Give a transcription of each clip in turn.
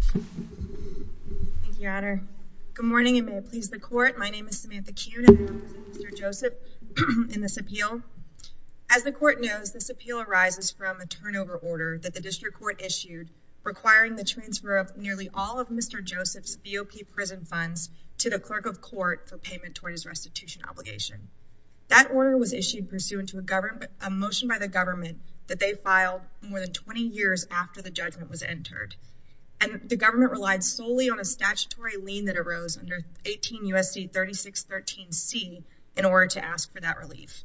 Thank you, Your Honor. Good morning, and may it please the court. My name is Samantha Kuhn and I represent Mr. Joseph in this appeal. As the court knows, this appeal arises from a turnover order that the district court issued requiring the transfer of nearly all of Mr. Joseph's BOP prison funds to the clerk of court for payment toward his restitution obligation. That order was issued pursuant to a motion by the government that they filed more than 20 years after the judgment was entered, and the government relied solely on a statutory lien that arose under 18 U.S.C. 3613C in order to ask for that relief.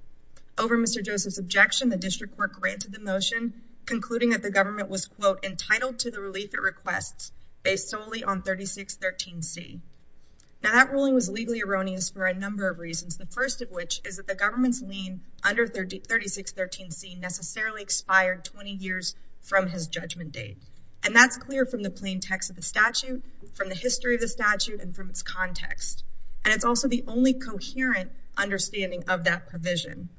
Over Mr. Joseph's objection, the district court granted the motion concluding that the government was, quote, entitled to the relief it requests based solely on 3613C. Now, that ruling was legally erroneous for a number of reasons, the first of which is that the government's lien under 3613C necessarily expired 20 years from his judgment date. And that's clear from the plain text of the statute, from the history of the statute, and from its context. And it's also the only coherent understanding of that provision.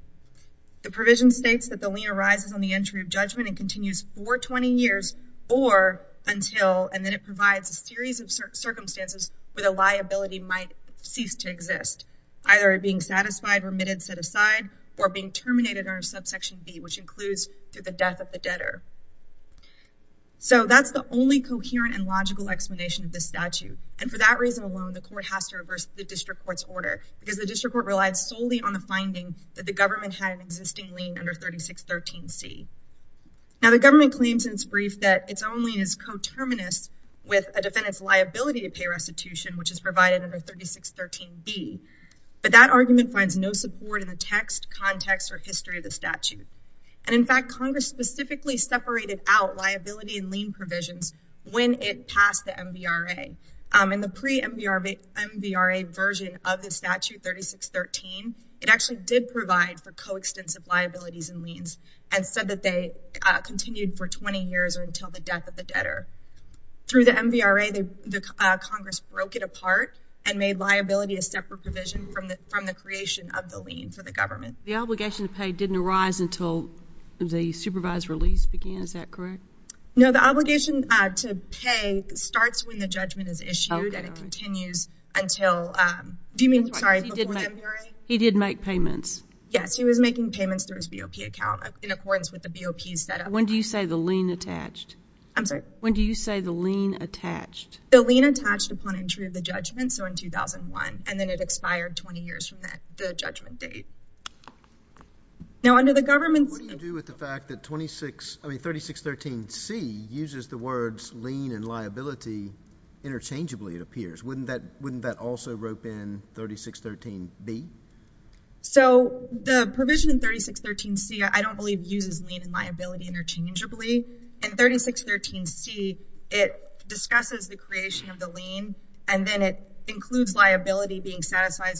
The provision states that the lien arises on the entry of judgment and continues for 20 years or until, and then it provides a series of circumstances where the liability might cease to exist. Either it being satisfied, remitted, set aside, or being terminated under subsection B, which includes through the death of the debtor. So, that's the only coherent and logical explanation of this statute. And for that reason alone, the court has to reverse the district court's order, because the district court relied solely on the finding that the government had an existing lien under 3613C. Now, the government claims in its brief that its own lien is coterminous with a defendant's liability to pay restitution, which is provided under 3613B. But that argument finds no support in the text, context, or history of the statute. And in fact, Congress specifically separated out liability and lien provisions when it passed the MVRA. In the pre-MVRA version of the statute, 3613, it actually did provide for coextensive liabilities and liens and said that they continued for 20 years or until the death of the debtor. Through the MVRA, Congress broke it apart and made liability a separate provision from the creation of the lien for the government. The obligation to pay didn't arise until the supervised release began, is that correct? No, the obligation to pay starts when the judgment is issued and it continues until, do you mean, sorry, before the MVRA? He did make payments. Yes, he was making payments through his BOP account in accordance with the BOP's setup. When do you say the lien attached? I'm sorry? When do you say the lien attached? The lien attached upon entry of the judgment, so in 2001, and then it expired 20 years from the judgment date. Now, under the government's… What do you do with the fact that 3613C uses the words lien and liability interchangeably, it appears? Wouldn't that also rope in 3613B? So, the provision in 3613C, I don't believe, uses lien and liability interchangeably. In 3613C, it discusses the creation of the lien, and then it includes liability being satisfied,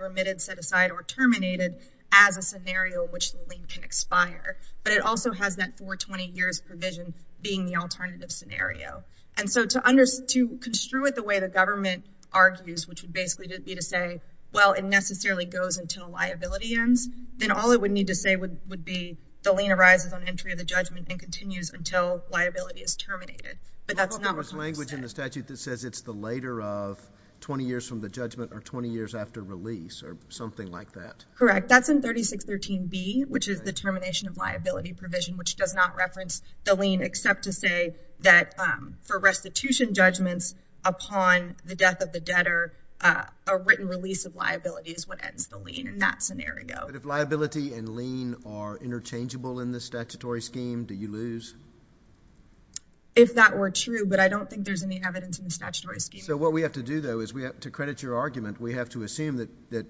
remitted, set aside, or terminated as a scenario which the lien can expire. But it also has that 420 years provision being the alternative scenario. And so, to construe it the way the government argues, which would basically be to say, well, it necessarily goes until liability ends, then all it would need to say would be the lien arises on entry of the judgment and continues until liability is terminated. But that's not what Congress said. There was language in the statute that says it's the later of 20 years from the judgment or 20 years after release or something like that. Correct. That's in 3613B, which is the termination of liability provision, which does not reference the lien, except to say that for restitution judgments upon the death of the debtor, a written release of liability is what ends the lien in that scenario. But if liability and lien are interchangeable in the statutory scheme, do you lose? If that were true, but I don't think there's any evidence in the statutory scheme. So what we have to do, though, is we have to credit your argument. We have to assume that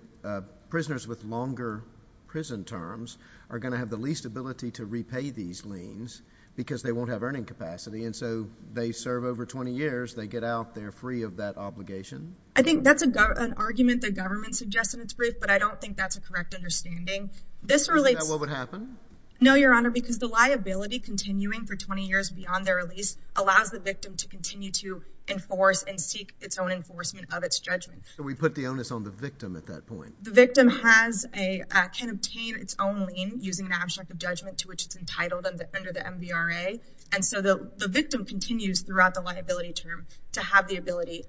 prisoners with longer prison terms are going to have the least ability to repay these liens because they won't have earning capacity. And so they serve over 20 years. They get out. They're free of that obligation. I think that's an argument the government suggested in its brief, but I don't think that's a correct understanding. Is that what would happen? No, Your Honor, because the liability continuing for 20 years beyond their release allows the victim to continue to enforce and seek its own enforcement of its judgment. So we put the onus on the victim at that point. The victim can obtain its own lien using an abstract of judgment to which it's entitled under the MVRA. And so the victim continues throughout the liability term to have the ability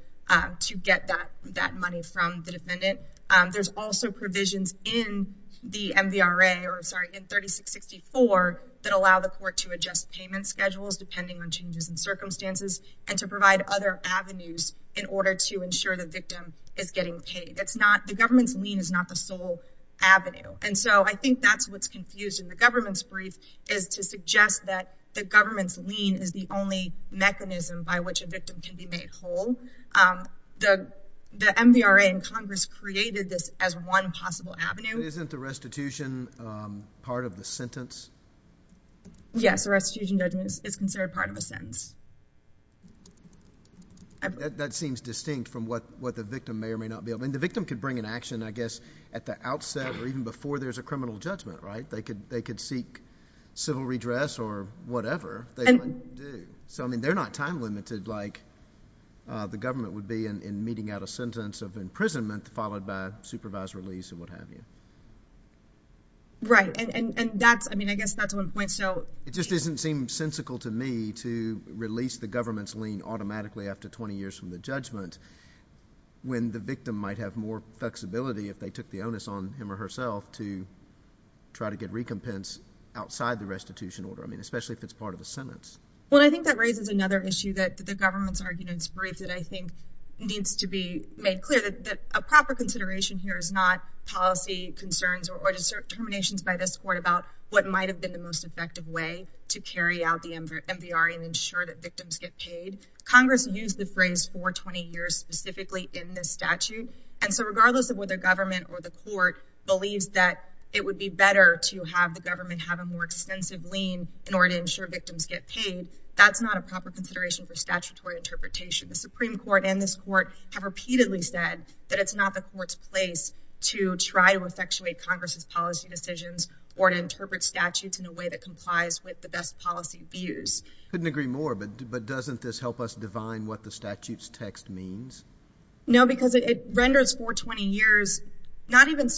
to get that money from the defendant. There's also provisions in the MVRA or, sorry, in 3664 that allow the court to adjust payment schedules depending on changes in circumstances and to provide other avenues in order to ensure the victim is getting paid. The government's lien is not the sole avenue. And so I think that's what's confused in the government's brief is to suggest that the government's lien is the only mechanism by which a victim can be made whole. The MVRA and Congress created this as one possible avenue. Isn't the restitution part of the sentence? Yes, the restitution judgment is considered part of a sentence. That seems distinct from what the victim may or may not be. I mean, the victim could bring an action, I guess, at the outset or even before there's a criminal judgment, right? They could seek civil redress or whatever. So, I mean, they're not time-limited like the government would be in meeting out a sentence of imprisonment followed by supervised release and what have you. Right. And that's, I mean, I guess that's one point. It just doesn't seem sensical to me to release the government's lien automatically after 20 years from the judgment when the victim might have more flexibility if they took the onus on him or herself to try to get recompense outside the restitution order. I mean, especially if it's part of a sentence. Well, I think that raises another issue that the government's argument is brief that I think needs to be made clear that a proper consideration here is not policy concerns or determinations by this court about what might have been the most effective way to carry out the MVRA and ensure that victims get paid. Congress used the phrase for 20 years specifically in this statute. And so regardless of whether government or the court believes that it would be better to have the government have a more extensive lien in order to ensure victims get paid, that's not a proper consideration for statutory interpretation. The Supreme Court and this court have repeatedly said that it's not the court's place to try to effectuate Congress's policy decisions or to interpret statutes in a way that complies with the best policy views. Couldn't agree more, but doesn't this help us divine what the statute's text means? No, because it renders for 20 years, not even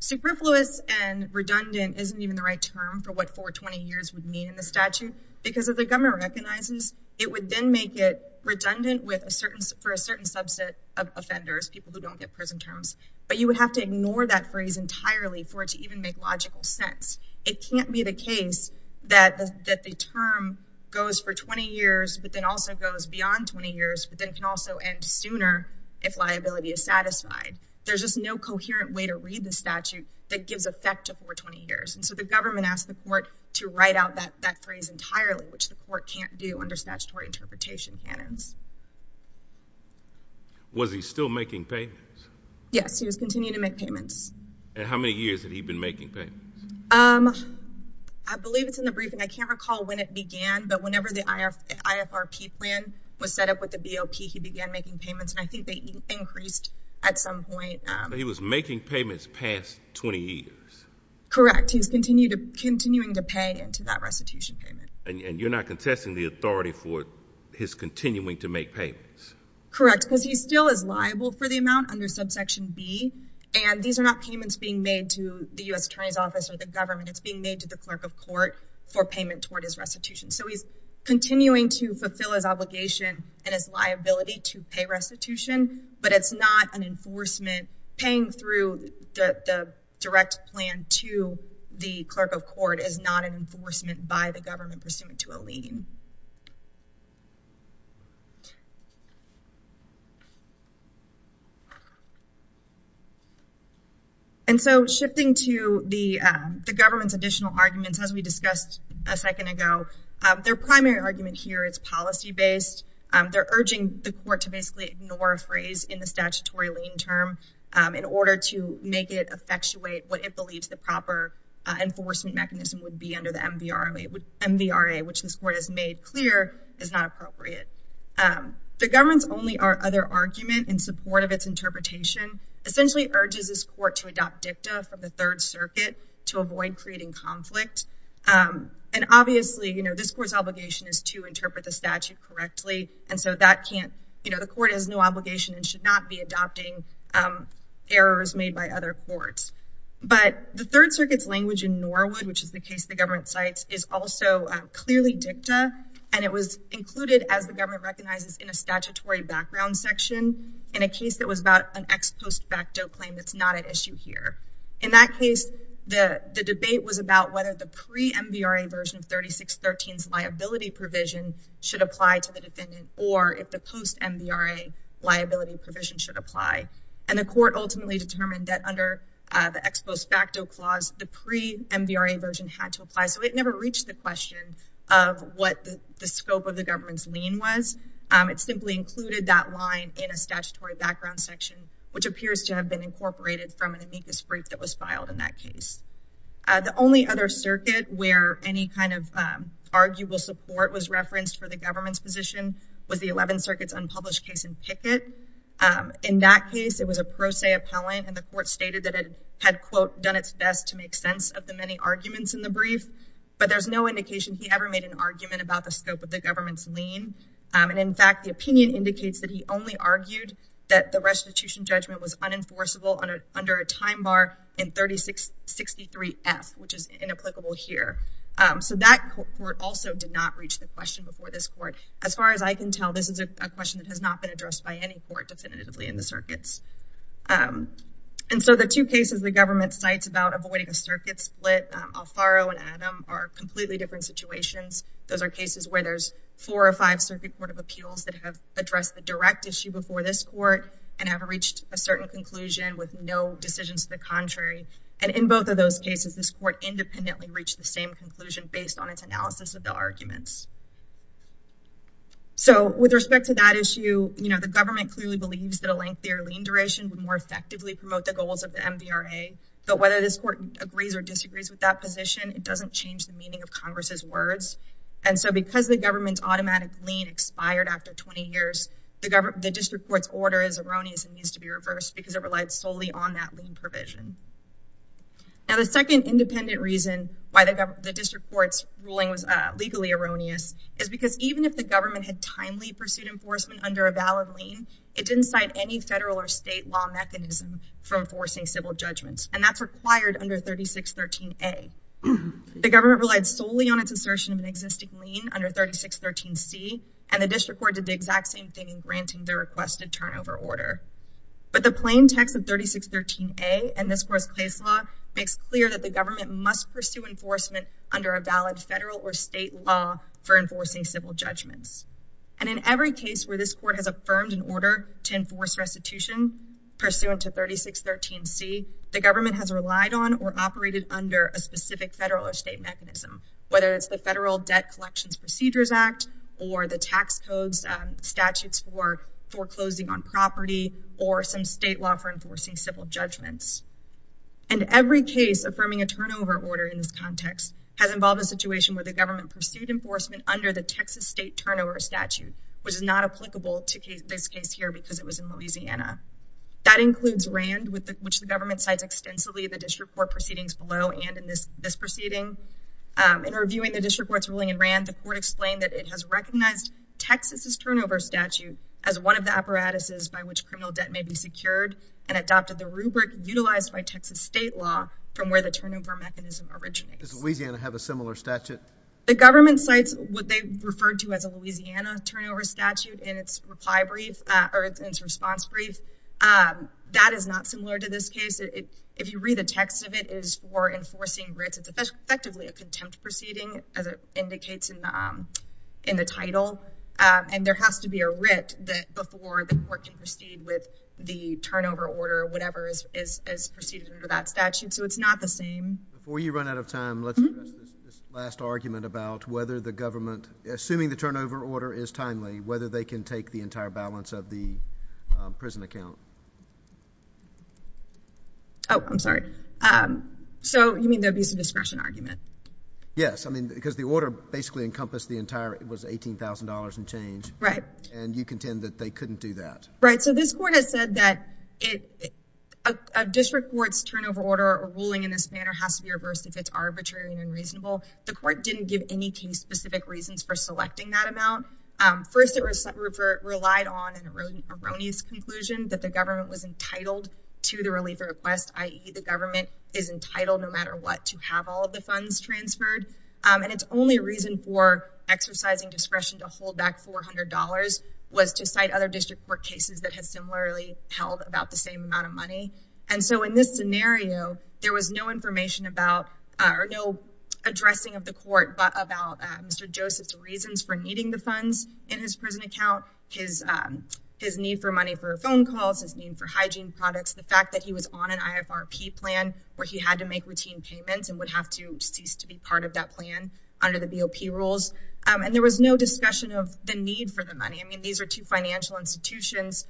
superfluous and redundant isn't even the right term for what for 20 years would mean in the statute because of the government recognizes it would then make it redundant with a certain for a certain subset of offenders, people who don't get prison terms. But you would have to ignore that phrase entirely for it to even make logical sense. It can't be the case that the term goes for 20 years, but then also goes beyond 20 years, but then can also end sooner if liability is satisfied. There's just no coherent way to read the statute that gives effect to for 20 years. And so the government asked the court to write out that phrase entirely, which the court can't do under statutory interpretation canons. Was he still making payments? Yes, he was continuing to make payments. And how many years had he been making payments? I believe it's in the briefing. I can't recall when it began, but whenever the IFRP plan was set up with the BOP, he began making payments. And I think they increased at some point. He was making payments past 20 years. Correct. He's continued to continuing to pay into that restitution payment. And you're not contesting the authority for his continuing to make payments. Correct. Because he still is liable for the amount under subsection B. And these are not payments being made to the U.S. Attorney's Office or the government. It's being made to the clerk of court for payment toward his restitution. So he's continuing to fulfill his obligation and his liability to pay restitution, but it's not an enforcement. Paying through the direct plan to the clerk of court is not an enforcement by the government pursuant to a lien. And so shifting to the government's additional arguments, as we discussed a second ago, their primary argument here is policy-based. They're urging the court to basically ignore a phrase in the statutory lien term in order to make it effectuate what it believes the proper enforcement mechanism would be under the MVRA, which this court has made clear is not appropriate. The government's only other argument in support of its interpretation essentially urges this court to adopt dicta from the Third Circuit to avoid creating conflict. And obviously, you know, this court's obligation is to interpret the statute correctly. And so that can't, you know, the court has no obligation and should not be adopting errors made by other courts. But the Third Circuit's language in Norwood, which is the case the government cites, is also clearly dicta. And it was included, as the government recognizes, in a statutory background section in a case that was about an ex post facto claim that's not at issue here. In that case, the debate was about whether the pre-MVRA version 3613's liability provision should apply to the defendant or if the post-MVRA liability provision should apply. And the court ultimately determined that under the ex post facto clause, the pre-MVRA version had to apply. So it never reached the question of what the scope of the government's lien was. It simply included that line in a statutory background section, which appears to have been incorporated from an amicus brief that was filed in that case. The only other circuit where any kind of arguable support was referenced for the government's position was the Eleventh Circuit's unpublished case in Pickett. In that case, it was a pro se appellant. And the court stated that it had, quote, done its best to make sense of the many arguments in the brief. But there's no indication he ever made an argument about the scope of the government's lien. And in fact, the opinion indicates that he only argued that the restitution judgment was unenforceable under a time bar in 3663F, which is inapplicable here. So that court also did not reach the question before this court. As far as I can tell, this is a question that has not been addressed by any court definitively in the circuits. And so the two cases the government cites about avoiding a circuit split, Alfaro and Adam, are completely different situations. Those are cases where there's four or five circuit court of appeals that have addressed the direct issue before this court and have reached a certain conclusion with no decisions to the contrary. And in both of those cases, this court independently reached the same conclusion based on its analysis of the arguments. So with respect to that issue, you know, the government clearly believes that a lengthier lien duration would more effectively promote the goals of the MVRA. But whether this court agrees or disagrees with that position, it doesn't change the meaning of Congress's words. And so because the government's automatic lien expired after 20 years, the district court's order is erroneous and needs to be reversed because it relied solely on that lien provision. Now, the second independent reason why the district court's ruling was legally erroneous is because even if the government had timely pursued enforcement under a valid lien, it didn't cite any federal or state law mechanism for enforcing civil judgments. And that's required under 3613A. The government relied solely on its assertion of an existing lien under 3613C, and the district court did the exact same thing in granting the requested turnover order. But the plain text of 3613A in this court's case law makes clear that the government must pursue enforcement under a valid federal or state law for enforcing civil judgments. And in every case where this court has affirmed an order to enforce restitution pursuant to 3613C, the government has relied on or operated under a specific federal or state mechanism, whether it's the Federal Debt Collections Procedures Act or the tax code statutes for foreclosing on property or some state law for enforcing civil judgments. And every case affirming a turnover order in this context has involved a situation where the government pursued enforcement under the Texas state turnover statute, which is not applicable to this case here because it was in Louisiana. That includes RAND, which the government cites extensively in the district court proceedings below and in this proceeding. In reviewing the district court's ruling in RAND, the court explained that it has recognized Texas's turnover statute as one of the apparatuses by which criminal debt may be secured and adopted the rubric utilized by Texas state law from where the turnover mechanism originates. Does Louisiana have a similar statute? The government cites what they referred to as a Louisiana turnover statute in its reply brief or its response brief. That is not similar to this case. If you read the text of it, it is for enforcing writs. It's effectively a contempt proceeding, as it indicates in the title. And there has to be a writ before the court can proceed with the turnover order or whatever is proceeded under that statute. So it's not the same. Before you run out of time, let's address this last argument about whether the government, assuming the turnover order is timely, whether they can take the entire balance of the prison account. Oh, I'm sorry. So you mean the abuse of discretion argument? Yes, I mean because the order basically encompassed the entire, it was $18,000 and change. Right. And you contend that they couldn't do that. Right. So this court has said that a district court's turnover order or ruling in this manner has to be reversed if it's arbitrary and unreasonable. The court didn't give any case-specific reasons for selecting that amount. First, it relied on an erroneous conclusion that the government was entitled to the relief request, i.e., the government is entitled no matter what to have all of the funds transferred. And its only reason for exercising discretion to hold back $400 was to cite other district court cases that had similarly held about the same amount of money. And so in this scenario, there was no information about or no addressing of the court about Mr. Joseph's reasons for needing the funds in his prison account, his need for money for phone calls, his need for hygiene products, the fact that he was on an IFRP plan where he had to make routine payments and would have to cease to be part of that plan under the BOP rules. And there was no discussion of the need for the money. I mean, these are two financial institutions.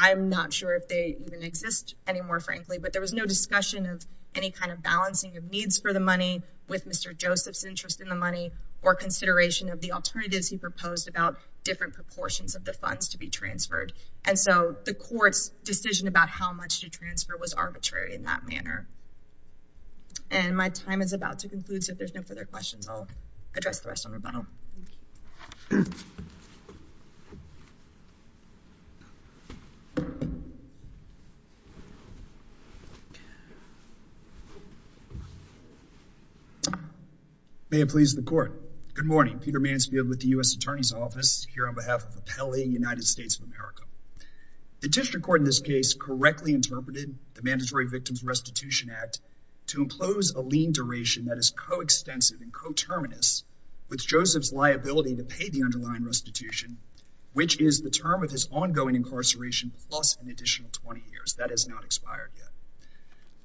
I'm not sure if they even exist anymore, frankly. But there was no discussion of any kind of balancing of needs for the money with Mr. Joseph's interest in the money or consideration of the alternatives he proposed about different proportions of the funds to be transferred. And so the court's decision about how much to transfer was arbitrary in that manner. And my time is about to conclude, so if there's no further questions, I'll address the rest on rebuttal. So, good morning. Peter Mansfield with the U.S. Attorney's Office here on behalf of Appellee United States of America. The district court in this case correctly interpreted the Mandatory Victims Restitution Act to impose a lien duration that is coextensive and coterminous with Joseph's liability to pay the underlying restitution, which is the term of his ongoing incarceration plus an additional 20 years. That has not expired yet.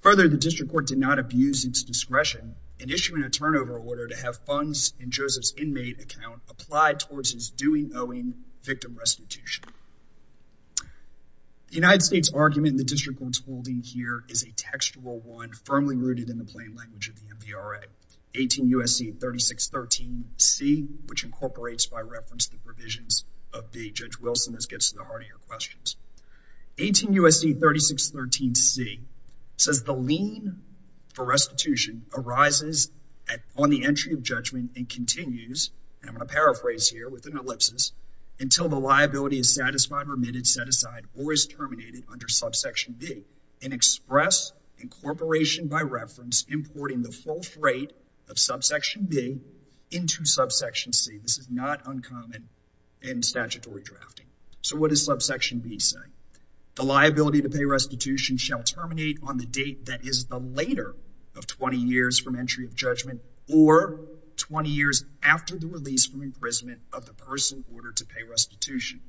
Further, the district court did not abuse its discretion in issuing a turnover order to have funds in Joseph's inmate account applied towards his due and owing victim restitution. The United States argument the district court's holding here is a textual one firmly rooted in the plain language of the MVRA, 18 U.S.C. 3613C, which incorporates by reference the provisions of the Judge Wilson, as gets to the heart of your questions. 18 U.S.C. 3613C says the lien for restitution arises on the entry of judgment and continues, and I'm going to paraphrase here with an ellipsis, until the liability is satisfied, remitted, set aside, or is terminated under subsection B and express incorporation by reference importing the full freight of subsection B into subsection C. This is not uncommon in statutory drafting. So what does subsection B say? The liability to pay restitution shall terminate on the date that is the later of 20 years from entry of judgment or 20 years after the release from imprisonment of the person ordered to pay restitution.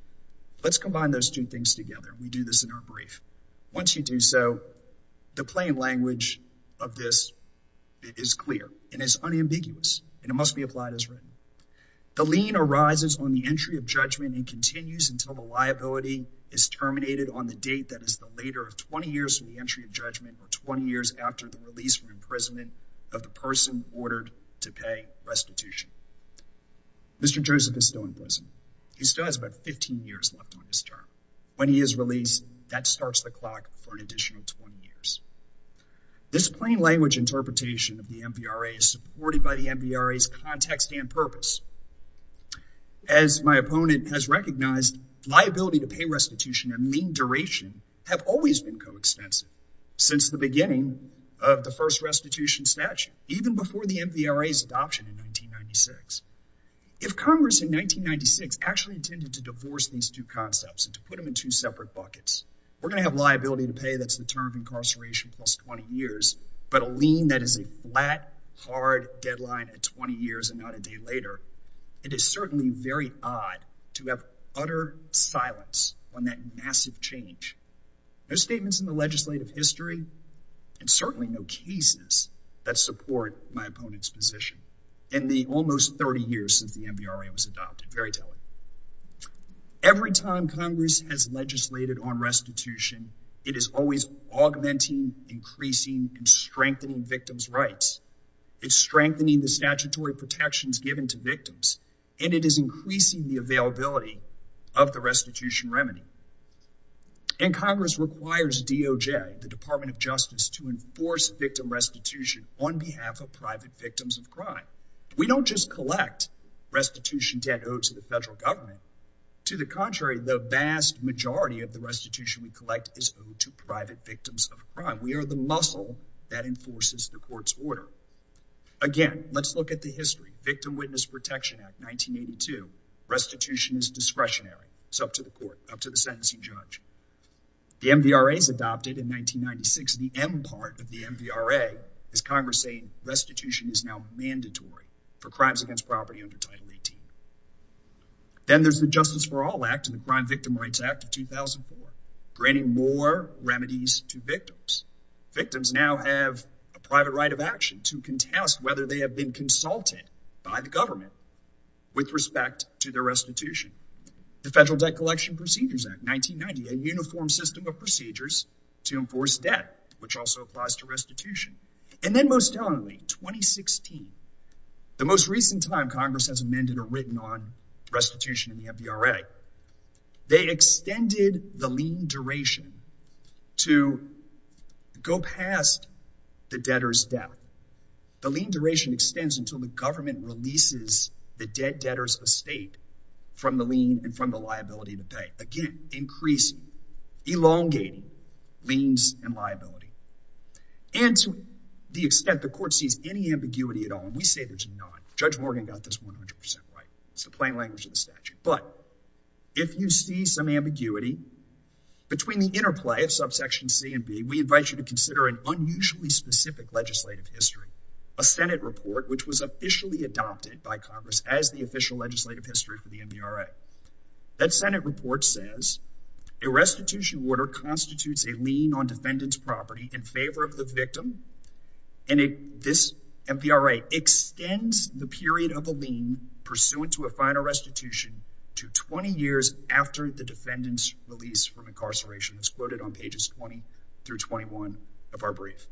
Let's combine those two things together. We do this in our brief. Once you do so, the plain language of this is clear and is unambiguous, and it must be applied as written. The lien arises on the entry of judgment and continues until the liability is terminated on the date that is the later of 20 years from the entry of judgment or 20 years after the release from imprisonment of the person ordered to pay restitution. Mr. Joseph is still in prison. He still has about 15 years left on his term. When he is released, that starts the clock for an additional 20 years. This plain language interpretation of the MVRA is supported by the MVRA's context and purpose. As my opponent has recognized, liability to pay restitution and lien duration have always been coextensive since the beginning of the first restitution statute, even before the MVRA's adoption in 1996. If Congress in 1996 actually intended to divorce these two concepts and to put them in two separate buckets, we're going to have liability to pay that's the term of incarceration plus 20 years, but a lien that is a flat, hard deadline at 20 years and not a day later. It is certainly very odd to have utter silence on that massive change. No statements in the legislative history and certainly no cases that support my opponent's position in the almost 30 years since the MVRA was adopted. Very telling. Every time Congress has legislated on restitution, it is always augmenting, increasing, and strengthening victims' rights. It's strengthening the statutory protections given to victims, and it is increasing the availability of the restitution remedy. And Congress requires DOJ, the Department of Justice, to enforce victim restitution on behalf of private victims of crime. We don't just collect restitution debt owed to the federal government. To the contrary, the vast majority of the restitution we collect is owed to private victims of crime. We are the muscle that enforces the court's order. Again, let's look at the history. Victim Witness Protection Act, 1982. Restitution is discretionary. It's up to the court, up to the sentencing judge. The MVRA was adopted in 1996. The M part of the MVRA is Congress saying restitution is now mandatory for crimes against property under Title 18. Then there's the Justice for All Act and the Crime Victim Rights Act of 2004, granting more remedies to victims. Victims now have a private right of action to contest whether they have been consulted by the government with respect to their restitution. The Federal Debt Collection Procedures Act, 1990. A uniform system of procedures to enforce debt, which also applies to restitution. And then most tellingly, 2016. The most recent time Congress has amended or written on restitution in the MVRA. They extended the lien duration to go past the debtor's debt. The lien duration extends until the government releases the debtor's estate from the lien and from the liability to pay. Again, increasing, elongating liens and liability. And to the extent the court sees any ambiguity at all, and we say there's not. Judge Morgan got this 100% right. It's the plain language of the statute. But if you see some ambiguity between the interplay of subsection C and B, we invite you to consider an unusually specific legislative history. A Senate report which was officially adopted by Congress as the official legislative history for the MVRA. That Senate report says a restitution order constitutes a lien on defendant's property in favor of the victim. And this MVRA extends the period of a lien pursuant to a final restitution to 20 years after the defendant's release from incarceration. It's quoted on pages 20 through 21 of our brief.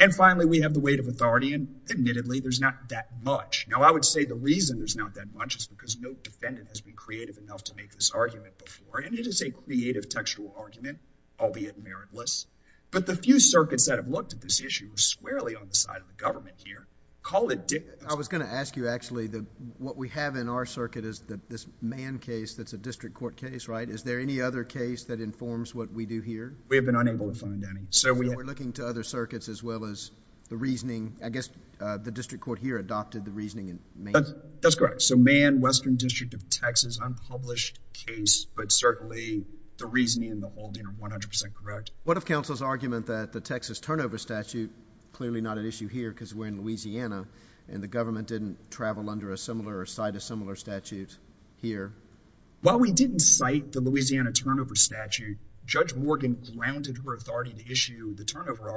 And finally, we have the weight of authority. And admittedly, there's not that much. Now, I would say the reason there's not that much is because no defendant has been creative enough to make this argument before. And it is a creative textual argument, albeit meritless. But the few circuits that have looked at this issue squarely on the side of the government here call it different. I was going to ask you, actually, what we have in our circuit is this Mann case that's a district court case, right? Is there any other case that informs what we do here? We have been unable to find any. We're looking to other circuits as well as the reasoning. I guess the district court here adopted the reasoning in Mann. That's correct. So Mann, Western District of Texas, unpublished case, but certainly the reasoning and the holding are 100% correct. What if counsel's argument that the Texas turnover statute, clearly not an issue here because we're in Louisiana, and the government didn't travel under a similar or cite a similar statute here? Well, we didn't cite the Louisiana turnover statute. Judge Morgan grounded her authority to issue the turnover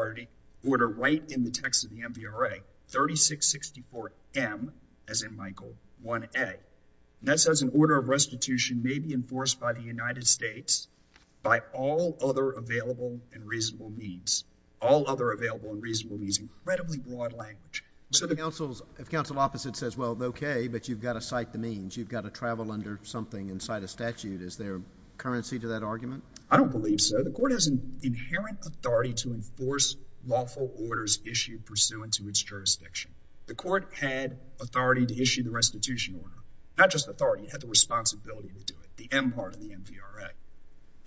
order right in the text of the MVRA, 3664M, as in Michael, 1A. And that says an order of restitution may be enforced by the United States by all other available and reasonable means. All other available and reasonable means, incredibly broad language. But if counsel's opposite says, well, okay, but you've got to cite the means, you've got to travel under something and cite a statute, is there currency to that argument? I don't believe so. The court has an inherent authority to enforce lawful orders issued pursuant to its jurisdiction. The court had authority to issue the restitution order, not just authority. It had the responsibility to do it, the M part of the MVRA.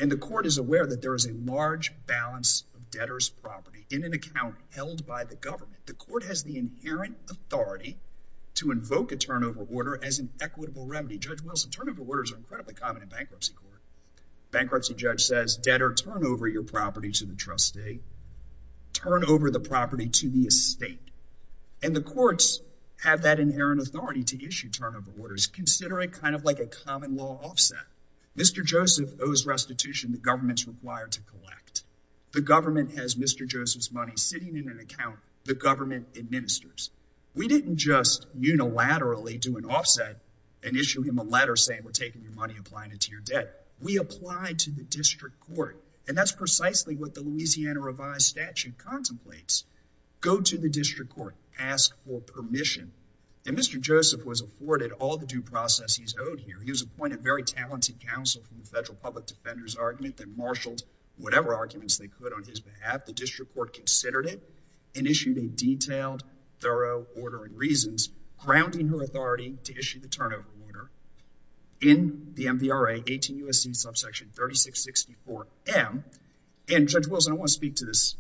And the court is aware that there is a large balance of debtors' property in an account held by the government. The court has the inherent authority to invoke a turnover order as an equitable remedy. Judge Wilson, turnover orders are incredibly common in bankruptcy court. Bankruptcy judge says, debtor, turn over your property to the trustee. Turn over the property to the estate. And the courts have that inherent authority to issue turnover orders. Consider it kind of like a common law offset. Mr. Joseph owes restitution the government's required to collect. The government has Mr. Joseph's money sitting in an account the government administers. We didn't just unilaterally do an offset and issue him a letter saying we're taking your money and applying it to your debt. We applied to the district court. And that's precisely what the Louisiana revised statute contemplates. Go to the district court, ask for permission. And Mr. Joseph was afforded all the due process he's owed here. He was appointed very talented counsel for the federal public defender's argument. They marshaled whatever arguments they could on his behalf. The district court considered it and issued a detailed, thorough order and reasons, grounding her authority to issue the turnover order in the MVRA, 18 U.S.C. subsection 3664M. And, Judge Wilson, I want to speak to this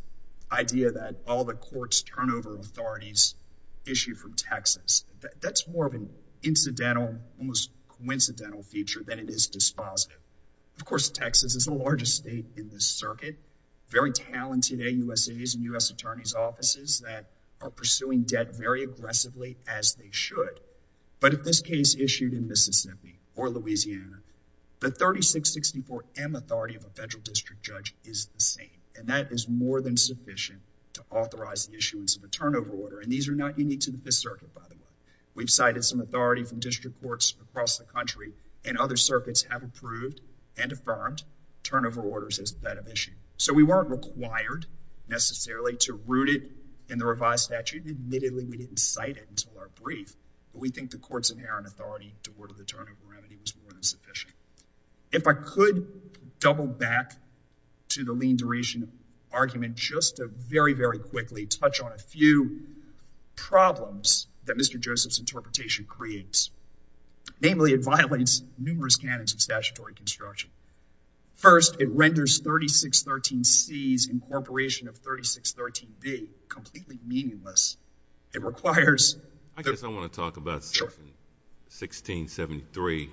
idea that all the court's turnover authorities issue from Texas. That's more of an incidental, almost coincidental feature than it is dispositive. Of course, Texas is the largest state in this circuit. Very talented AUSAs and U.S. attorneys' offices that are pursuing debt very aggressively as they should. But if this case issued in Mississippi or Louisiana, the 3664M authority of a federal district judge is the same. And that is more than sufficient to authorize the issuance of a turnover order. And these are not unique to this circuit, by the way. We've cited some authority from district courts across the country, and other circuits have approved and affirmed turnover orders as a bit of issue. So we weren't required, necessarily, to root it in the revised statute. Admittedly, we didn't cite it until our brief. But we think the court's inherent authority to order the turnover remedy was more than sufficient. If I could double back to the lean duration argument just to very, very quickly touch on a few problems that Mr. Joseph's interpretation creates. Namely, it violates numerous canons of statutory construction. First, it renders 3613C's incorporation of 3613B completely meaningless. I guess I want to talk about 1673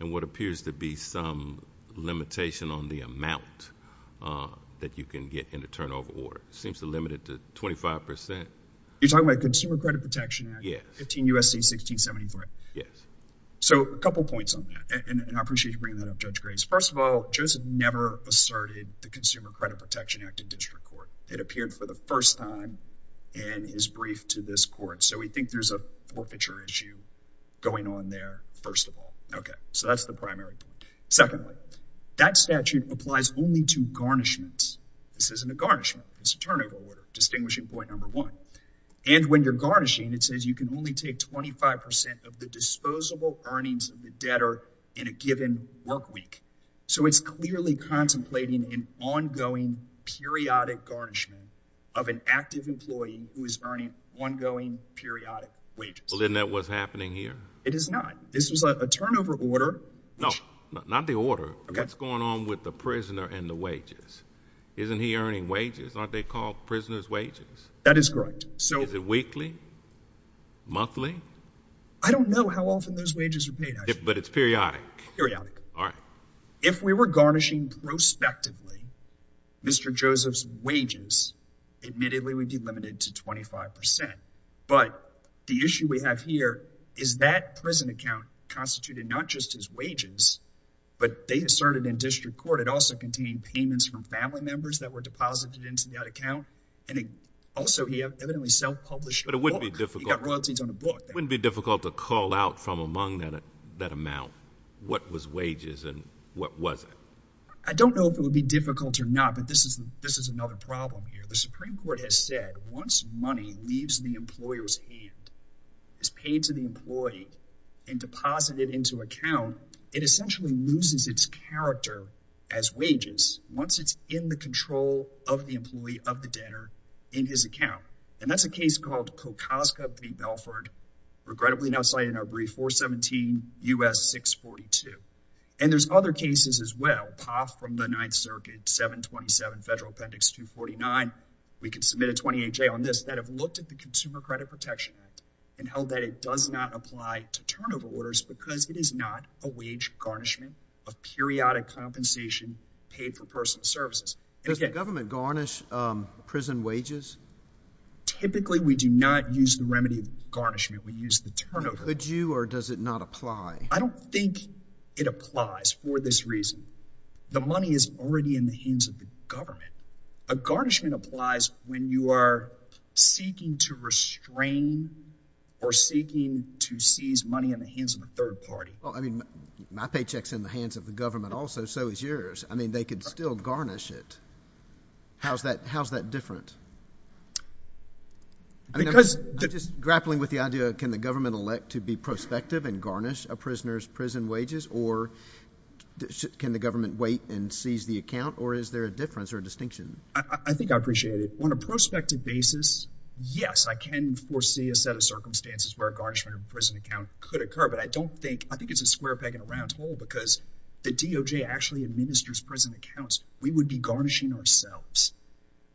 and what appears to be some limitation on the amount that you can get in a turnover order. It seems to limit it to 25%. You're talking about the Consumer Credit Protection Act? Yes. 15 U.S.C. 1673? Yes. So a couple points on that, and I appreciate you bringing that up, Judge Grace. First of all, Joseph never asserted the Consumer Credit Protection Act in district court. It appeared for the first time and is briefed to this court. So we think there's a forfeiture issue going on there, first of all. Okay. So that's the primary point. Secondly, that statute applies only to garnishments. This isn't a garnishment. It's a turnover order, distinguishing point number one. And when you're garnishing, it says you can only take 25% of the disposable earnings of the debtor in a given work week. So it's clearly contemplating an ongoing, periodic garnishment of an active employee who is earning ongoing, periodic wages. Well, isn't that what's happening here? It is not. This is a turnover order. No, not the order. What's going on with the prisoner and the wages? Isn't he earning wages? Aren't they called prisoner's wages? That is correct. Is it weekly? Monthly? I don't know how often those wages are paid, actually. But it's periodic? Periodic. Periodic. All right. If we were garnishing prospectively, Mr. Joseph's wages, admittedly, would be limited to 25%. But the issue we have here is that prison account constituted not just his wages, but they asserted in district court it also contained payments from family members that were deposited into that account. And also, he evidently self-published a book. But it wouldn't be difficult. He got royalties on a book. Wouldn't it be difficult to call out from among that amount what was wages and what wasn't? I don't know if it would be difficult or not, but this is another problem here. The Supreme Court has said once money leaves the employer's hand, is paid to the employee, and deposited into account, it essentially loses its character as wages once it's in the control of the employee, of the debtor, in his account. And that's a case called Kokoska v. Belford, regrettably not cited in our brief, 417 U.S. 642. And there's other cases as well. Poff from the Ninth Circuit, 727 Federal Appendix 249. We can submit a 28-J on this. That have looked at the Consumer Credit Protection Act and held that it does not apply to turnover orders because it is not a wage garnishment of periodic compensation paid for personal services. Does the government garnish prison wages? Typically, we do not use the remedy of garnishment. We use the turnover. Would you or does it not apply? I don't think it applies for this reason. The money is already in the hands of the government. A garnishment applies when you are seeking to restrain or seeking to seize money in the hands of a third party. Well, I mean, my paycheck's in the hands of the government also. So is yours. I mean, they could still garnish it. How's that different? I'm just grappling with the idea of can the government elect to be prospective and garnish a prisoner's prison wages? Or can the government wait and seize the account? Or is there a difference or a distinction? I think I appreciate it. On a prospective basis, yes, I can foresee a set of circumstances where a garnishment of a prison account could occur. But I don't think I think it's a square peg in a round hole because the DOJ actually administers prison accounts. We would be garnishing ourselves.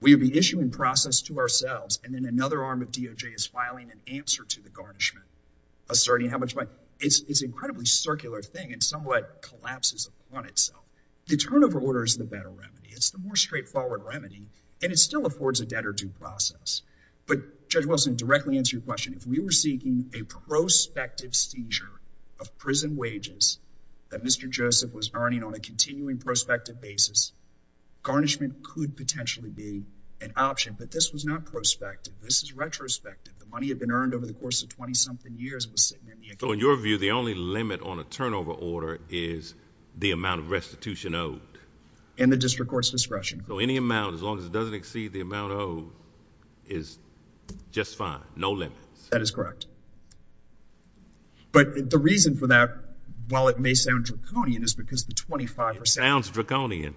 We would be issuing process to ourselves. And then another arm of DOJ is filing an answer to the garnishment asserting how much money. It's incredibly circular thing and somewhat collapses upon itself. The turnover order is the better remedy. It's the more straightforward remedy. And it still affords a debtor due process. But Judge Wilson, to directly answer your question, if we were seeking a prospective seizure of prison wages that Mr. Joseph was earning on a continuing prospective basis, garnishment could potentially be an option. But this was not prospective. This is retrospective. The money had been earned over the course of 20-something years. It was sitting in the account. So in your view, the only limit on a turnover order is the amount of restitution owed? In the district court's discretion. So any amount, as long as it doesn't exceed the amount owed, is just fine? No limits? That is correct. But the reason for that, while it may sound draconian, is because the 25 percent. It sounds draconian.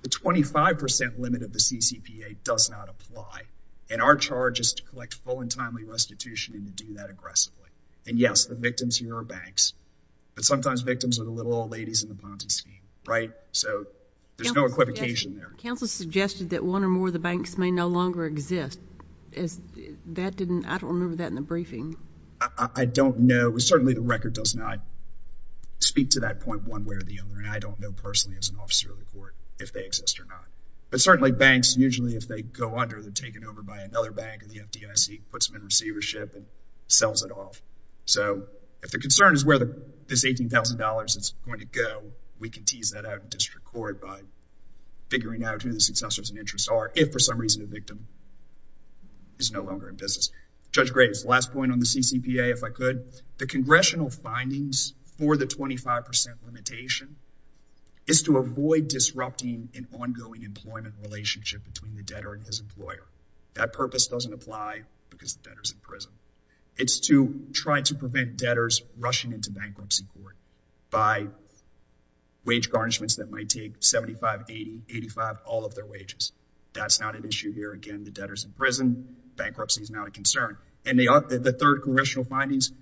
The 25 percent limit of the CCPA does not apply. And our charge is to collect full and timely restitution and to do that aggressively. And, yes, the victims here are banks. But sometimes victims are the little old ladies in the Ponti scheme, right? So there's no equivocation there. Counsel suggested that one or more of the banks may no longer exist. I don't remember that in the briefing. I don't know. Certainly the record does not speak to that point one way or the other. And I don't know personally as an officer of the court if they exist or not. But certainly banks, usually if they go under, they're taken over by another bank. And the FDIC puts them in receivership and sells it off. So if the concern is where this $18,000 is going to go, we can tease that out in district court by figuring out who the successors and interests are if, for some reason, the victim is no longer in business. Judge Graves, last point on the CCPA, if I could. The congressional findings for the 25 percent limitation is to avoid disrupting an ongoing employment relationship between the debtor and his employer. That purpose doesn't apply because the debtor is in prison. It's to try to prevent debtors rushing into bankruptcy court by wage garnishments that might take $75, $80, $85, all of their wages. That's not an issue here. Again, the debtor is in prison. Bankruptcy is not a concern. And the third congressional findings,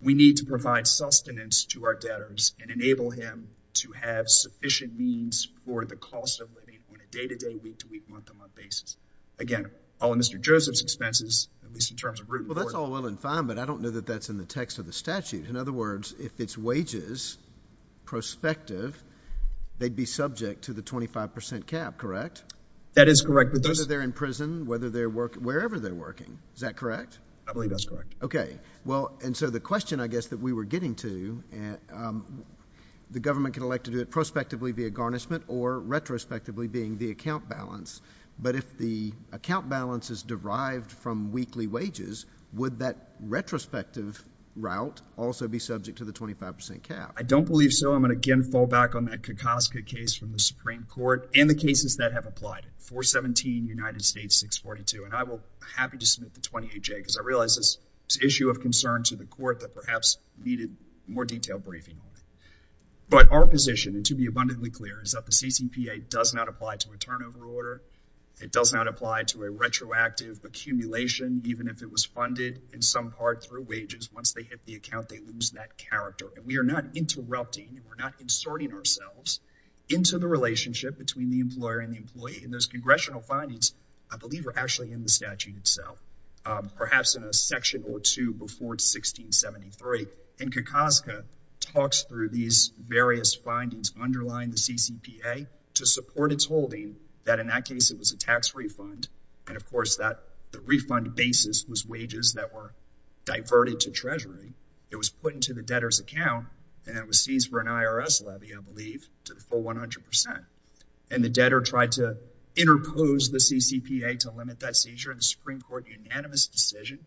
we need to provide sustenance to our debtors and enable him to have sufficient means for the cost of living on a day-to-day, week-to-week, month-to-month basis. Again, all of Mr. Joseph's expenses, at least in terms of root and board. Well, that's all well and fine, but I don't know that that's in the text of the statute. In other words, if it's wages prospective, they'd be subject to the 25 percent cap, correct? That is correct. Whether they're in prison, whether they're working, wherever they're working. Is that correct? I believe that's correct. Okay. Well, and so the question, I guess, that we were getting to, the government can elect to do it prospectively via garnishment or retrospectively being the account balance. But if the account balance is derived from weekly wages, would that retrospective route also be subject to the 25 percent cap? I don't believe so. I'm going to again fall back on that Kokoska case from the Supreme Court and the cases that have applied, 417, United States, 642. And I will be happy to submit the 28J, because I realize this is an issue of concern to the court that perhaps needed more detailed briefing on it. But our position, and to be abundantly clear, is that the CCPA does not apply to a turnover order. It does not apply to a retroactive accumulation, even if it was funded in some part through wages. Once they hit the account, they lose that character. And we are not interrupting. We're not inserting ourselves into the relationship between the employer and the employee. And those congressional findings, I believe, are actually in the statute itself, perhaps in a section or two before 1673. And Kokoska talks through these various findings underlying the CCPA to support its holding, that in that case, it was a tax refund. And of course, the refund basis was wages that were diverted to Treasury. It was put into the debtor's account, and it was seized for an IRS levy, I believe, to the full 100 percent. And the debtor tried to interpose the CCPA to limit that seizure. The Supreme Court, unanimous decision.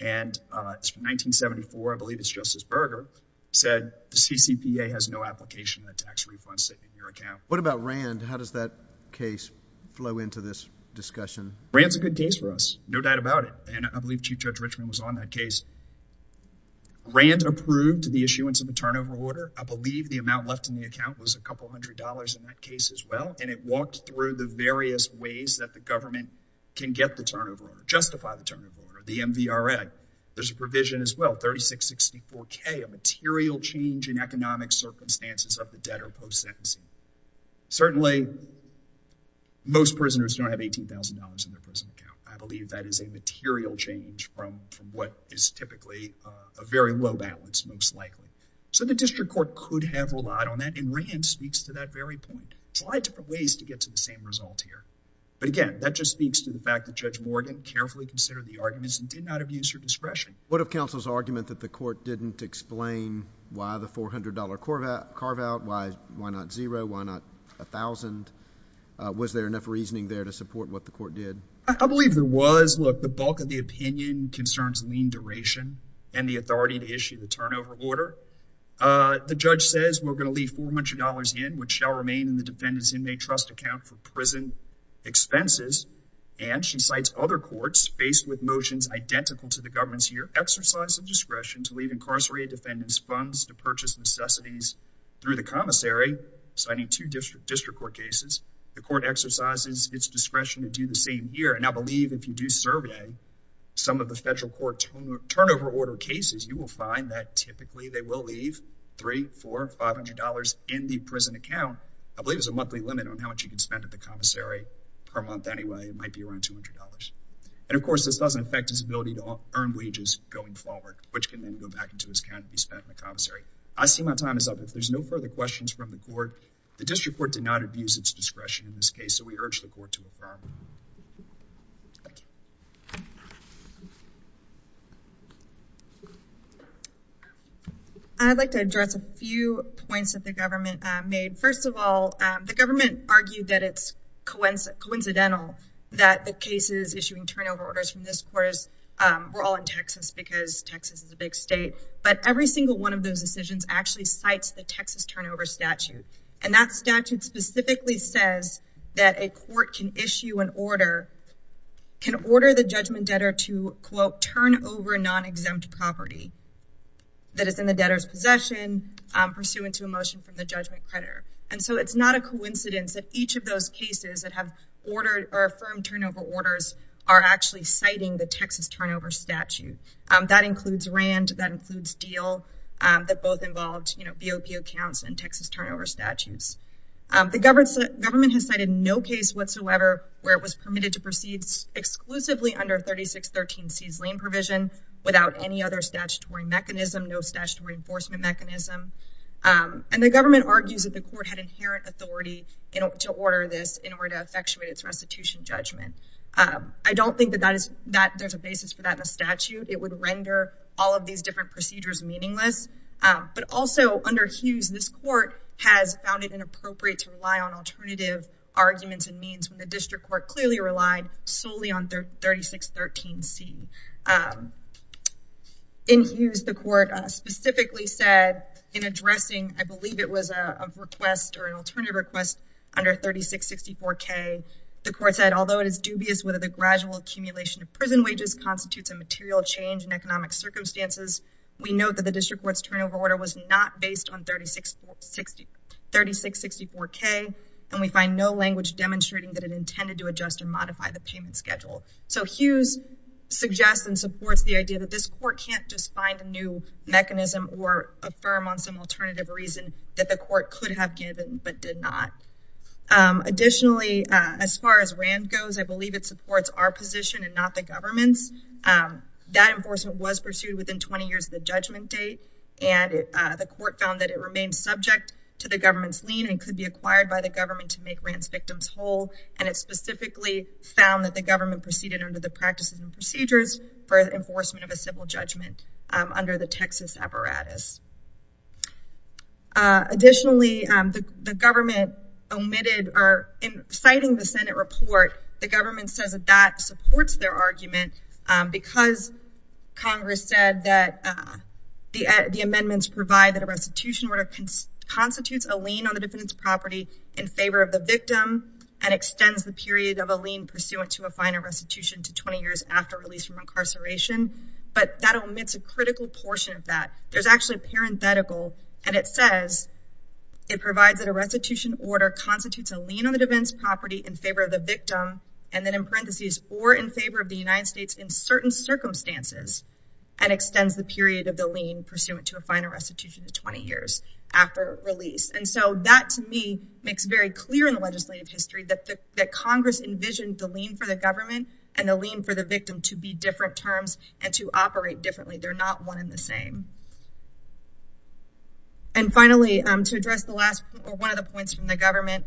And it's from 1974, I believe it's Justice Berger, said the CCPA has no application of tax refunds in your account. What about Rand? How does that case flow into this discussion? Rand's a good case for us, no doubt about it. And I believe Chief Judge Richmond was on that case. Rand approved the issuance of a turnover order. I believe the amount left in the account was a couple hundred dollars in that case as well. And it walked through the various ways that the government can get the turnover order, justify the turnover order, the MVRA. There's a provision as well, 3664K, a material change in economic circumstances of the debtor post-sentencing. Certainly, most prisoners don't have $18,000 in their prison account. I believe that is a material change from what is typically a very low balance, most likely. So the district court could have relied on that, and Rand speaks to that very point. There's a lot of different ways to get to the same result here. But again, that just speaks to the fact that Judge Morgan carefully considered the arguments and did not abuse her discretion. What of counsel's argument that the court didn't explain why the $400 carve-out, why not zero, why not $1,000? Was there enough reasoning there to support what the court did? I believe there was. Look, the bulk of the opinion concerns lien duration and the authority to issue the turnover order. The judge says we're going to leave $400 in, which shall remain in the defendant's inmate trust account for prison expenses. And she cites other courts faced with motions identical to the government's here, exercise of discretion to leave incarcerated defendants funds to purchase necessities through the commissary, citing two district court cases. The court exercises its discretion to do the same here. And I believe if you do survey some of the federal court turnover order cases, you will find that typically they will leave $300, $400, $500 in the prison account. I believe there's a monthly limit on how much you can spend at the commissary per month anyway. It might be around $200. And of course, this doesn't affect his ability to earn wages going forward, which can then go back into his account to be spent in the commissary. I see my time is up. If there's no further questions from the court, the district court did not abuse its discretion in this case, so we urge the court to affirm. Thank you. I'd like to address a few points that the government made. First of all, the government argued that it's coincidental that the cases issuing turnover orders from this court were all in Texas because Texas is a big state. But every single one of those decisions actually cites the Texas turnover statute. And that statute specifically says that a court can issue an order, can order the judgment debtor to, quote, turn over non-exempt property that is in the debtor's possession pursuant to a motion from the judgment creditor. And so it's not a coincidence that each of those cases that have ordered or affirmed turnover orders are actually citing the Texas turnover statute. That includes RAND. That includes DEAL. That both involved BOP accounts and Texas turnover statutes. The government has cited no case whatsoever where it was permitted to proceed exclusively under 3613C's lien provision without any other statutory mechanism, no statutory enforcement mechanism. And the government argues that the court had inherent authority to order this in order to effectuate its restitution judgment. I don't think that there's a basis for that in the statute. It would render all of these different procedures meaningless. But also under Hughes, this court has found it inappropriate to rely on alternative arguments and means when the district court clearly relied solely on 3613C. In Hughes, the court specifically said in addressing, I believe it was a request or an alternative request under 3664K, the court said, although it is dubious whether the gradual accumulation of prison wages constitutes a material change in economic circumstances, we know that the district court's turnover order was not based on 3664K, and we find no language demonstrating that it intended to adjust and modify the payment schedule. So Hughes suggests and supports the idea that this court can't just find a new mechanism or affirm on some alternative reason that the court could have given but did not. Additionally, as far as RAND goes, I believe it supports our position and not the government's. That enforcement was pursued within 20 years of the judgment date, and the court found that it remained subject to the government's lien and could be acquired by the government to make RAND's victims whole. And it specifically found that the government proceeded under the practices and procedures for enforcement of a civil judgment under the Texas apparatus. Additionally, the government omitted or in citing the Senate report, the government says that supports their argument because Congress said that the amendments provide that a restitution order constitutes a lien on the defendant's property in favor of the victim and extends the period of a lien pursuant to a final restitution to 20 years after release from incarceration. But that omits a critical portion of that. There's actually a parenthetical, and it says, it provides that a restitution order constitutes a lien on the defendant's property in favor of the victim, and then in parentheses, or in favor of the United States in certain circumstances, and extends the period of the lien pursuant to a final restitution to 20 years after release. And so that, to me, makes very clear in the legislative history that Congress envisioned the lien for the government and the lien for the victim to be different terms and to operate differently. They're not one and the same. And finally, to address the last or one of the points from the government,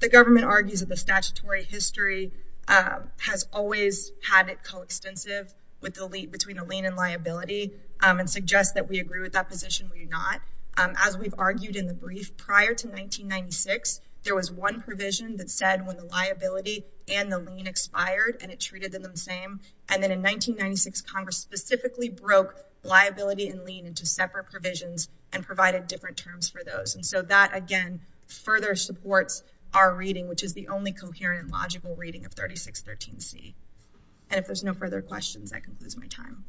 the government argues that the statutory history has always had it coextensive with the lead between the lien and liability and suggest that we agree with that position. We do not. As we've argued in the brief prior to 1996, there was one provision that said when the liability and the lien expired and it treated them the same. And then in 1996, Congress specifically broke liability and lien into separate provisions and provided different terms for those. And so that, again, further supports our reading, which is the only coherent, logical reading of 3613C. And if there's no further questions, I can lose my time.